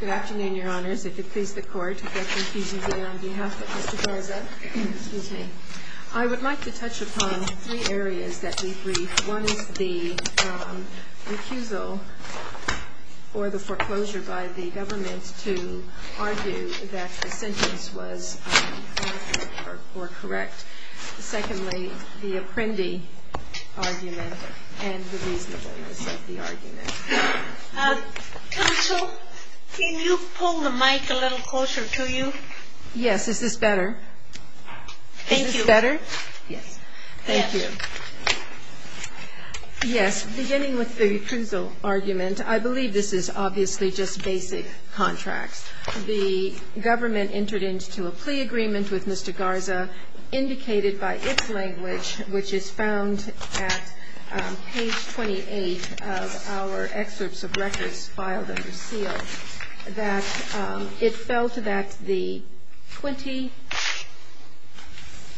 Good afternoon, your honors. I would like to touch upon three areas that we briefed. One is the recusal or the foreclosure by the government to argue that the sentence was correct. Secondly, the apprendi argument and the reasonableness of the argument. Counsel, can you pull the mic a little closer to you? Yes, is this better? Thank you. Is this better? Yes. Thank you. Yes, beginning with the recusal argument, I believe this is obviously just basic contracts. The government entered into a plea agreement with Mr. Garza, indicated by its language, which is found at page 28 of our excerpts of records filed under seal, that it felt that the 20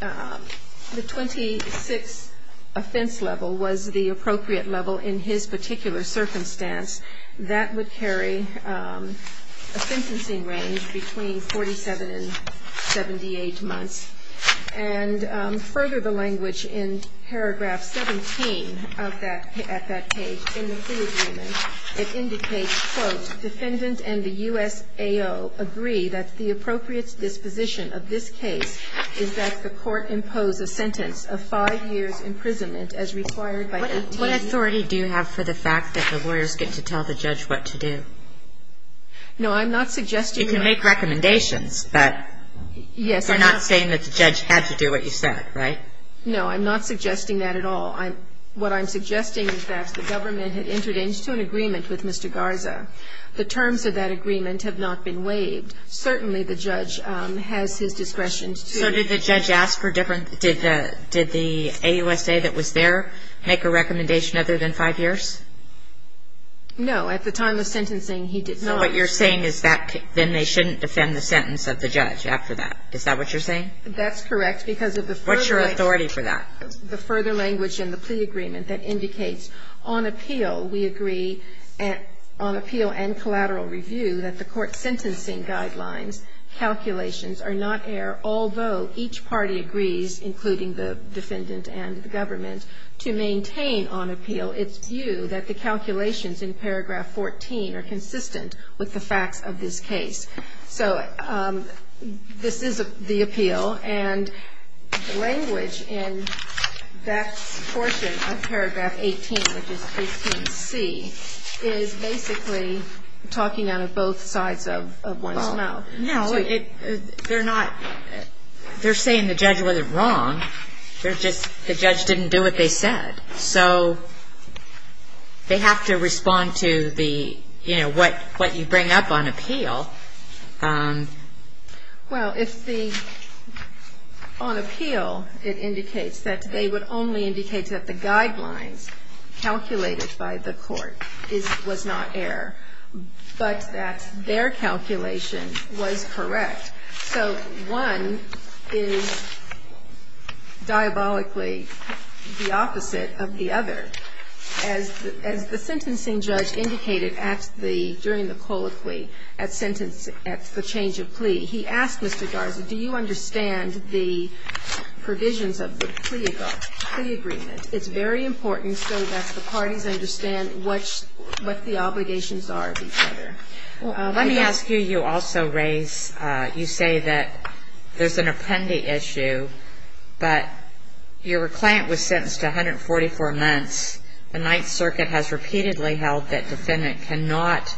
The 26 offense level was the appropriate level in his particular circumstance. That would carry a sentencing range between 47 and 78 months. And further the language in paragraph 17 of that, at that page in the plea agreement, it indicates, quote, defendant and the USAO agree that the appropriate disposition of this case is that the court impose a sentence of five years' imprisonment as required by 18. What authority do you have for the fact that the lawyers get to tell the judge what to do? No, I'm not suggesting that. You can make recommendations, but you're not saying that the judge had to do what you said, right? No, I'm not suggesting that at all. What I'm suggesting is that the government had entered into an agreement with Mr. Garza. The terms of that agreement have not been waived. Certainly the judge has his discretion to So did the judge ask for different, did the AUSA that was there make a recommendation other than five years? No, at the time of sentencing he did not. So what you're saying is that then they shouldn't defend the sentence of the judge after that. Is that what you're saying? That's correct because of the further What's your authority for that? language in the plea agreement that indicates on appeal we agree, on appeal and collateral review, that the court's sentencing guidelines calculations are not air, although each party agrees, including the defendant and the government, to maintain on appeal its view that the calculations in paragraph 14 are consistent with the facts of this case. So this is the appeal, and the language in that portion of paragraph 18, which is 18C, is basically talking out of both sides of one's mouth. No, they're not, they're saying the judge wasn't wrong, they're just, the judge didn't do what they said. So they have to respond to the, you know, what you bring up on appeal. Well, if the, on appeal it indicates that they would only indicate that the guidelines calculated by the court was not air, but that their calculation was correct. So one is diabolically the opposite of the other. As the sentencing judge indicated at the, during the colloquy, at the change of plea, he asked Mr. Garza, do you understand the provisions of the plea agreement? It's very important so that the parties understand what the obligations are of each other. Well, let me ask you, you also raise, you say that there's an apprendee issue, but your client was sentenced to 144 months. The Ninth Circuit has repeatedly held that defendant cannot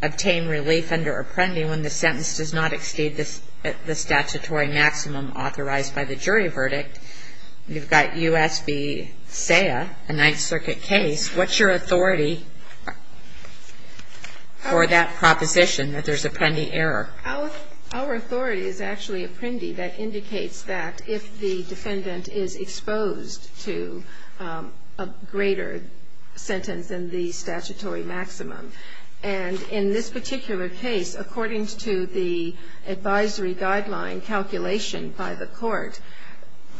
obtain relief under apprendee when the sentence does not exceed the statutory maximum authorized by the jury verdict. You've got U.S. v. SAIA, a Ninth Circuit case. What's your authority for that proposition that there's apprendee error? Our authority is actually apprendee that indicates that if the defendant is exposed to a greater sentence than the statutory maximum. And in this particular case, according to the advisory guideline calculation by the court,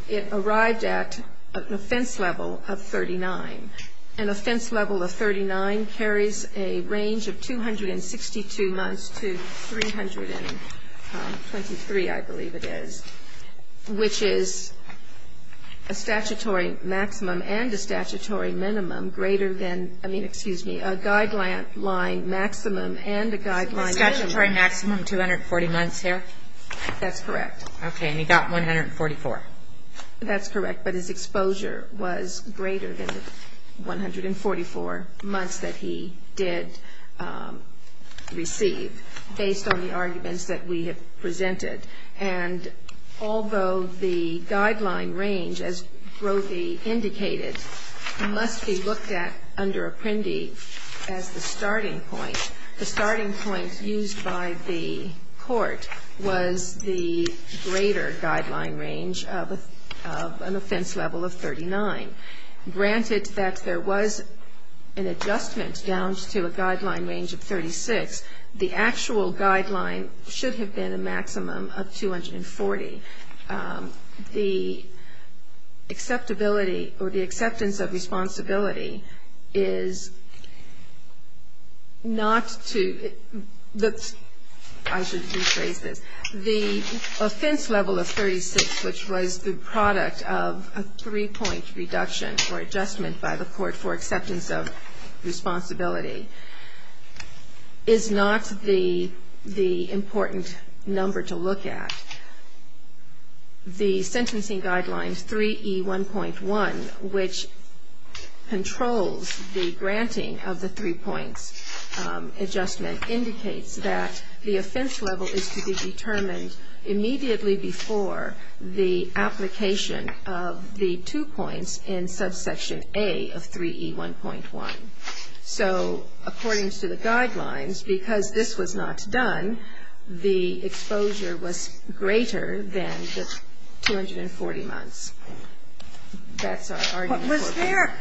it arrived at an offense level of 39. An offense level of 39 carries a range of 262 months to 323, I believe it is, which is a statutory maximum and a statutory minimum greater than, I mean, excuse me, a guideline maximum and a guideline minimum. The statutory maximum, 240 months there? That's correct. Okay, and he got 144. That's correct, but his exposure was greater than the 144 months that he did receive, based on the arguments that we have presented. And although the guideline range, as Brody indicated, must be looked at under apprendee as the starting point, the starting point used by the court was the greater guideline range of an offense level of 39. Granted that there was an adjustment down to a guideline range of 36, the actual guideline should have been a maximum of 240. The acceptability or the acceptance of responsibility is not to the, I should rephrase this, the offense level of 36, which was the product of a three-point reduction or adjustment by the court for acceptance of responsibility, is not the important number to look at. The sentencing guideline 3E1.1, which controls the granting of the three-points adjustment, indicates that the offense level is to be determined immediately before the application of the two points in subsection A of 3E1.1. So according to the guidelines, because this was not done, the exposure was greater than the 240 months. That's our argument. Sotomayor, is there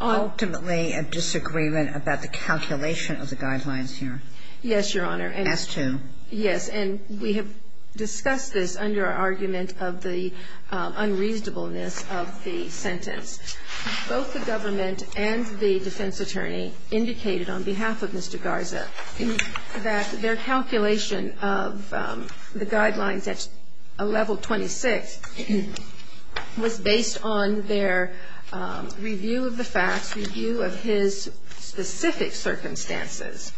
ultimately a disagreement about the calculation of the guidelines here? Yes, Your Honor. As to? Yes. And we have discussed this under our argument of the unreasonableness of the sentence. Both the government and the defense attorney indicated on behalf of Mr. Garza that their calculation of the guidelines at level 26 was based on their review of the facts, review of his specific circumstances,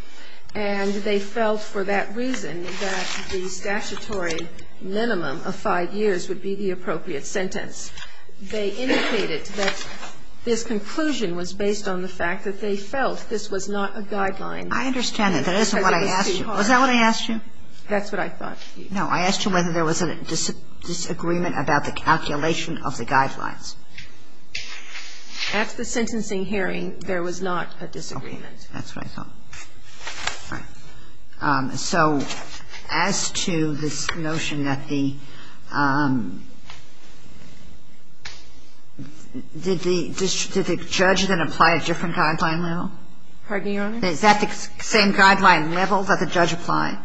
and they felt for that reason that the statutory minimum of 5 years would be the appropriate sentence. They indicated that this conclusion was based on the fact that they felt this was not a guideline. I understand that. That isn't what I asked you. Was that what I asked you? That's what I thought. No. I asked you whether there was a disagreement about the calculation of the guidelines. At the sentencing hearing, there was not a disagreement. Okay. That's what I thought. All right. So as to this notion that the – did the judge then apply a different guideline level? Pardon me, Your Honor? Is that the same guideline level that the judge applied?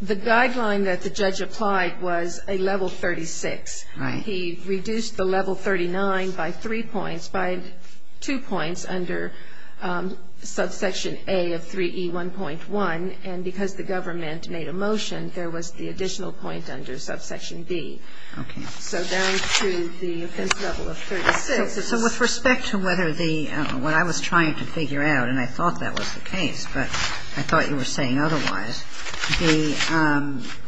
The guideline that the judge applied was a level 36. Right. He reduced the level 39 by three points, by two points, under subsection A of 3E1.1. And because the government made a motion, there was the additional point under subsection B. Okay. So down to the offense level of 36. So with respect to whether the – what I was trying to figure out, and I thought that was the case, but I thought you were saying otherwise, the –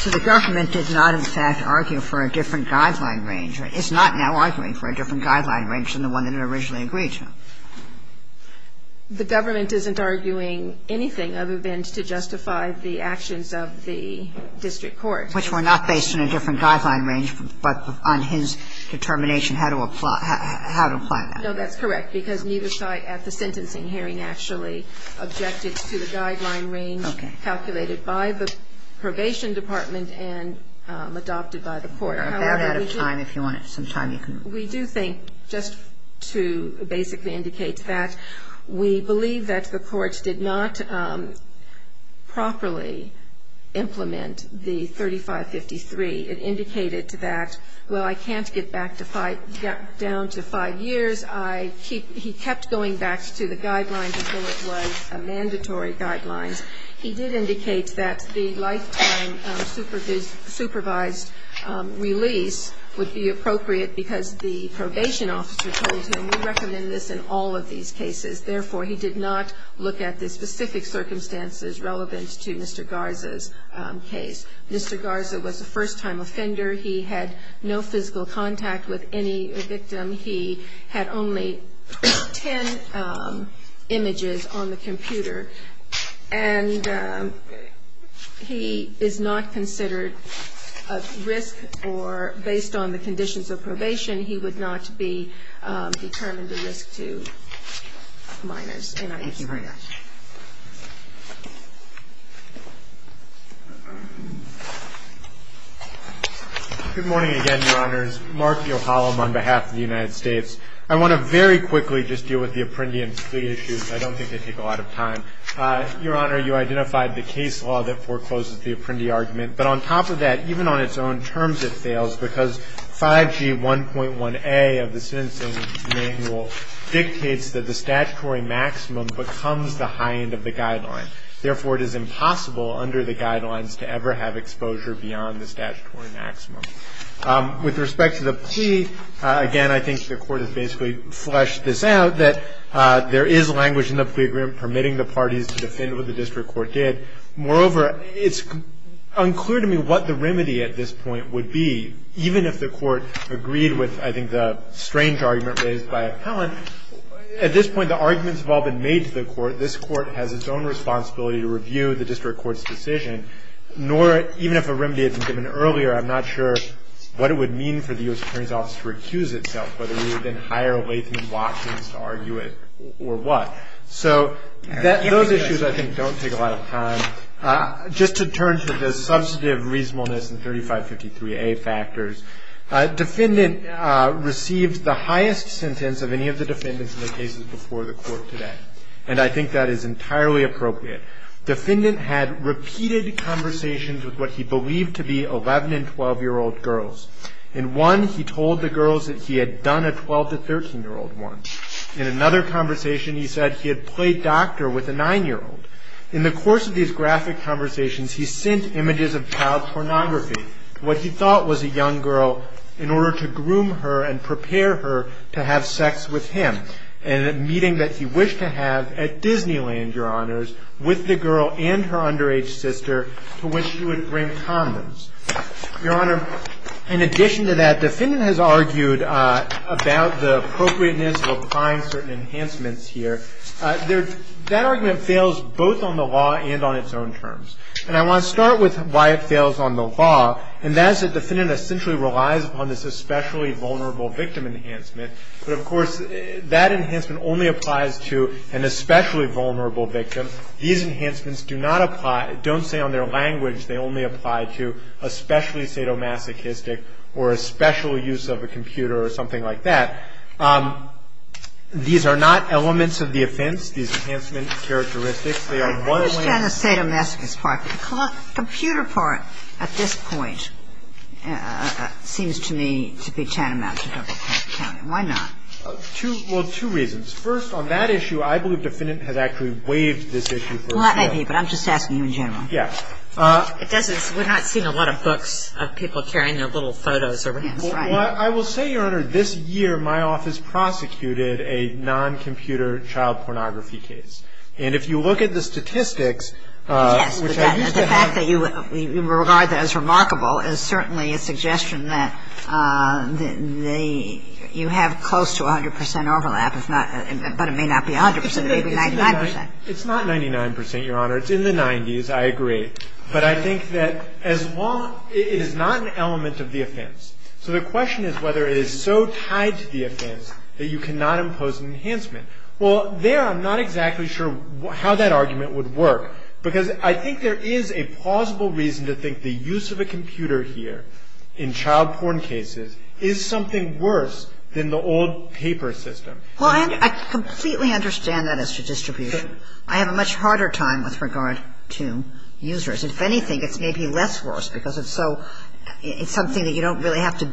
so the government did not, in fact, argue for a different guideline range. It's not now arguing for a different guideline range than the one that it originally agreed to. The government isn't arguing anything other than to justify the actions of the district court. Which were not based on a different guideline range, but on his determination how to apply that. No, that's correct, because neither side at the sentencing hearing actually objected to the guideline range calculated by the probation department and adopted by the court. However, we do – We're about out of time. If you want some time, you can – We do think, just to basically indicate that, we believe that the courts did not properly implement the 3553. It indicated that, well, I can't get back to five – down to five years. I keep – he kept going back to the guidelines until it was a mandatory guideline. He did indicate that the lifetime supervised release would be appropriate because the probation officer told him, we recommend this in all of these cases. Therefore, he did not look at the specific circumstances relevant to Mr. Garza's case. Mr. Garza was a first-time offender. He had no physical contact with any victim. He had only ten images on the computer. And he is not considered a risk or, based on the conditions of probation, he would not be determined a risk to minors. Thank you very much. Good morning again, Your Honors. Mark Yohalam on behalf of the United States. I want to very quickly just deal with the Apprendi and Splee issues. I don't think they take a lot of time. Your Honor, you identified the case law that forecloses the Apprendi argument. But on top of that, even on its own terms, it fails because 5G1.1a of the sentencing manual dictates that the statutory maximum becomes the high end of the guideline. Therefore, it is impossible under the guidelines to ever have exposure beyond the statutory maximum. With respect to the plea, again, I think the Court has basically fleshed this out, that there is language in the plea agreement permitting the parties to defend what the district court did. Moreover, it's unclear to me what the remedy at this point would be, even if the Court agreed with, I think, the strange argument raised by Appellant. At this point, the arguments have all been made to the Court. This Court has its own responsibility to review the district court's decision. Nor, even if a remedy had been given earlier, I'm not sure what it would mean for the U.S. Attorney's Office to recuse itself, whether we would then hire Latham and Watkins to argue it or what. So those issues, I think, don't take a lot of time. Just to turn to the substantive reasonableness and 3553a factors, Defendant received the highest sentence of any of the defendants in the cases before the Court today. And I think that is entirely appropriate. Defendant had repeated conversations with what he believed to be 11- and 12-year-old girls. In one, he told the girls that he had done a 12- to 13-year-old one. In another conversation, he said he had played doctor with a 9-year-old. In the course of these graphic conversations, he sent images of child pornography, what he thought was a young girl, in order to groom her and prepare her to have sex with him, in a meeting that he wished to have at Disneyland, Your Honors, with the girl and her underage sister, to which she would bring condoms. Your Honor, in addition to that, Defendant has argued about the appropriateness of applying certain enhancements here. That argument fails both on the law and on its own terms. And I want to start with why it fails on the law, and that is that Defendant essentially relies upon this especially vulnerable victim enhancement. But, of course, that enhancement only applies to an especially vulnerable victim. These enhancements do not apply, don't say on their language, they only apply to a specially sadomasochistic or a special use of a computer or something like that. These are not elements of the offense, these enhancement characteristics. They are one- I understand the sadomasochistic part. The computer part at this point seems to me to be tantamount to double-counting. Why not? Well, two reasons. First, on that issue, I believe Defendant has actually waived this issue. Well, that may be, but I'm just asking you in general. Yes. It doesn't, we're not seeing a lot of books of people carrying their little photos around. Well, I will say, Your Honor, this year my office prosecuted a non-computer child pornography case. And if you look at the statistics- Yes. The fact that you regard that as remarkable is certainly a suggestion that they, you have close to 100 percent overlap, but it may not be 100 percent, maybe 99 percent. It's not 99 percent, Your Honor. It's in the 90s. I agree. But I think that as long, it is not an element of the offense. So the question is whether it is so tied to the offense that you cannot impose an enhancement. Well, there I'm not exactly sure how that argument would work, because I think there is a plausible reason to think the use of a computer here in child porn cases is something worse than the old paper system. Well, I completely understand that as to distribution. I have a much harder time with regard to users. If anything, it's maybe less worse because it's so, it's something that you don't really have to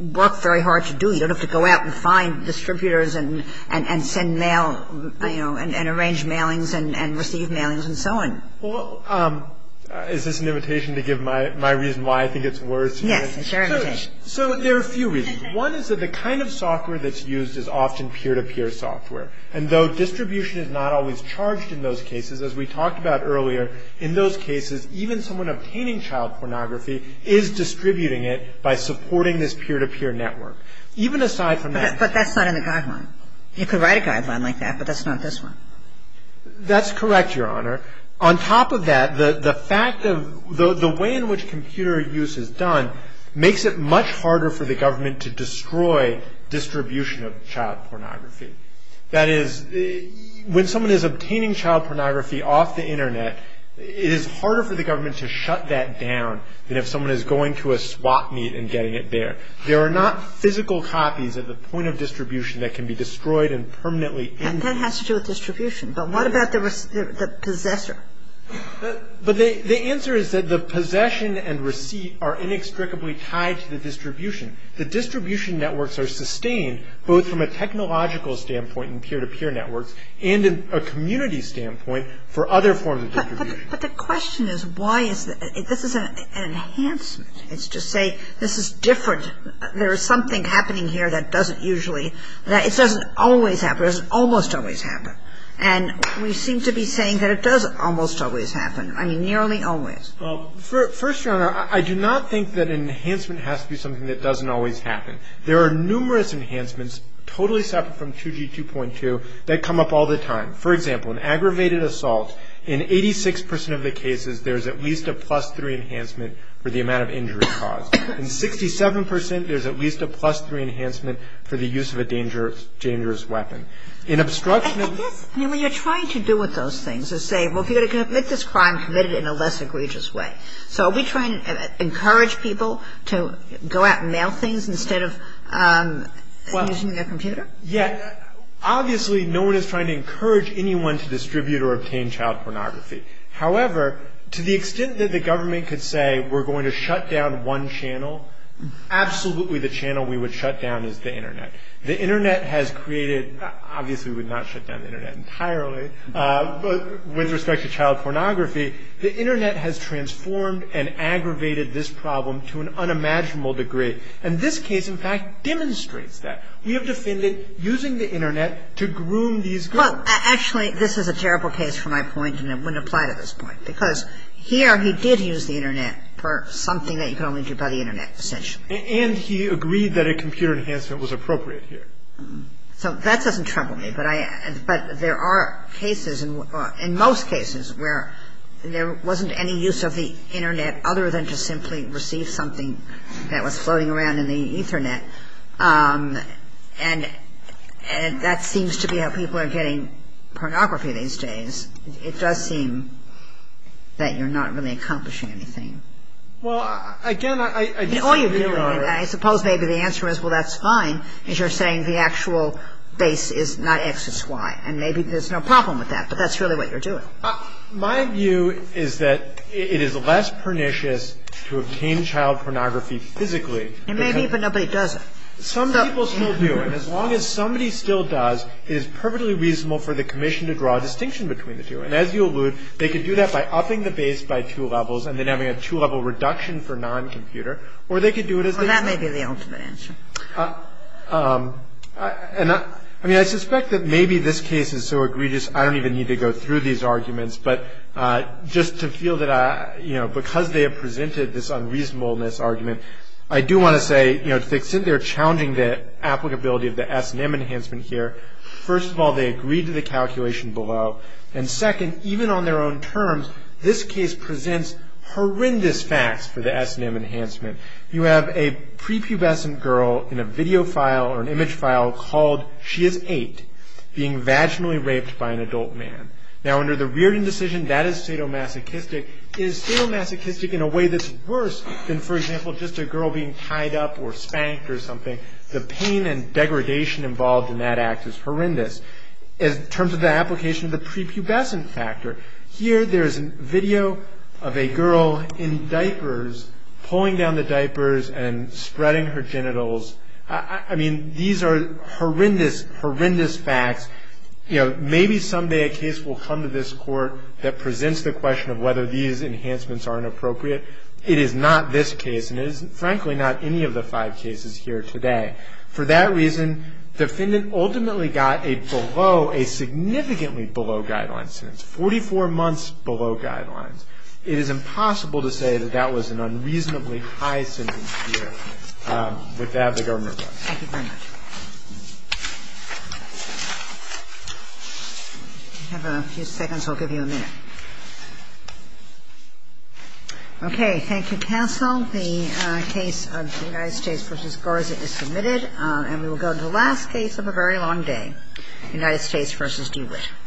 work very hard to do. You don't have to go out and find distributors and send mail, you know, and arrange mailings and receive mailings and so on. Well, is this an invitation to give my reason why I think it's worse? Yes. It's your invitation. So there are a few reasons. One is that the kind of software that's used is often peer-to-peer software. And though distribution is not always charged in those cases, as we talked about earlier, in those cases even someone obtaining child pornography is distributing it by supporting this peer-to-peer network. Even aside from that. But that's not in the guideline. You could write a guideline like that, but that's not this one. That's correct, Your Honor. On top of that, the fact of the way in which computer use is done makes it much harder for the government to destroy distribution of child pornography. That is, when someone is obtaining child pornography off the Internet, it is harder for the government to shut that down than if someone is going to a swap meet and getting it there. There are not physical copies at the point of distribution that can be destroyed and permanently ended. And that has to do with distribution. But what about the possessor? But the answer is that the possession and receipt are inextricably tied to the distribution. The distribution networks are sustained both from a technological standpoint in peer-to-peer networks and a community standpoint for other forms of distribution. But the question is why is that? This is an enhancement. It's to say this is different. There is something happening here that doesn't usually – it doesn't always happen. It doesn't almost always happen. And we seem to be saying that it doesn't almost always happen. I mean, nearly always. First, Your Honor, I do not think that an enhancement has to be something that doesn't always happen. There are numerous enhancements totally separate from 2G 2.2 that come up all the time. For example, in aggravated assault, in 86 percent of the cases, there is at least a plus 3 enhancement for the amount of injury caused. In 67 percent, there is at least a plus 3 enhancement for the use of a dangerous weapon. In obstruction of – I guess, I mean, what you're trying to do with those things is say, well, if you're going to commit this crime, commit it in a less egregious way. So are we trying to encourage people to go out and mail things instead of using their computer? Yeah. Obviously, no one is trying to encourage anyone to distribute or obtain child pornography. However, to the extent that the government could say we're going to shut down one channel, absolutely the channel we would shut down is the Internet. The Internet has created – obviously, we would not shut down the Internet entirely. But with respect to child pornography, the Internet has transformed and aggravated this problem to an unimaginable degree. And this case, in fact, demonstrates that. We have defended using the Internet to groom these girls. Well, actually, this is a terrible case for my point, and it wouldn't apply to this point. Because here, he did use the Internet for something that you could only do by the Internet, essentially. And he agreed that a computer enhancement was appropriate here. So that doesn't trouble me. But I – but there are cases, in most cases, where there wasn't any use of the Internet other than to simply receive something that was floating around in the Ethernet. And that seems to be how people are getting pornography these days. It does seem that you're not really accomplishing anything. Well, again, I disagree with you on that. I suppose maybe the answer is, well, that's fine, is you're saying the actual base is not X, it's Y. And maybe there's no problem with that, but that's really what you're doing. My view is that it is less pernicious to obtain child pornography physically. And maybe even nobody does it. Some people still do. And as long as somebody still does, it is perfectly reasonable for the commission to draw a distinction between the two. And as you allude, they could do that by upping the base by two levels and then having a two-level reduction for non-computer. Or they could do it as they want. Well, that may be the ultimate answer. And I mean, I suspect that maybe this case is so egregious, I don't even need to go through these arguments. But just to feel that, you know, because they have presented this unreasonableness argument, I do want to say, you know, they're challenging the applicability of the S&M enhancement here. First of all, they agreed to the calculation below. And second, even on their own terms, this case presents horrendous facts for the S&M enhancement. You have a prepubescent girl in a video file or an image file called, She is 8, being vaginally raped by an adult man. Now, under the Reardon decision, that is sadomasochistic. It is sadomasochistic in a way that's worse than, for example, just a girl being tied up or spanked or something. The pain and degradation involved in that act is horrendous. In terms of the application of the prepubescent factor, here there is a video of a girl in diapers, pulling down the diapers and spreading her genitals. I mean, these are horrendous, horrendous facts. You know, maybe someday a case will come to this Court that presents the question of whether these enhancements are inappropriate. It is not this case, and it is, frankly, not any of the five cases here today. For that reason, the defendant ultimately got a significantly below guidelines sentence, 44 months below guidelines. It is impossible to say that that was an unreasonably high sentence here. With that, the government is up. Thank you very much. If you have a few seconds, I'll give you a minute. Okay, thank you, counsel. The case of United States v. Garza is submitted. And we will go to the last case of a very long day, United States v. Dewitt.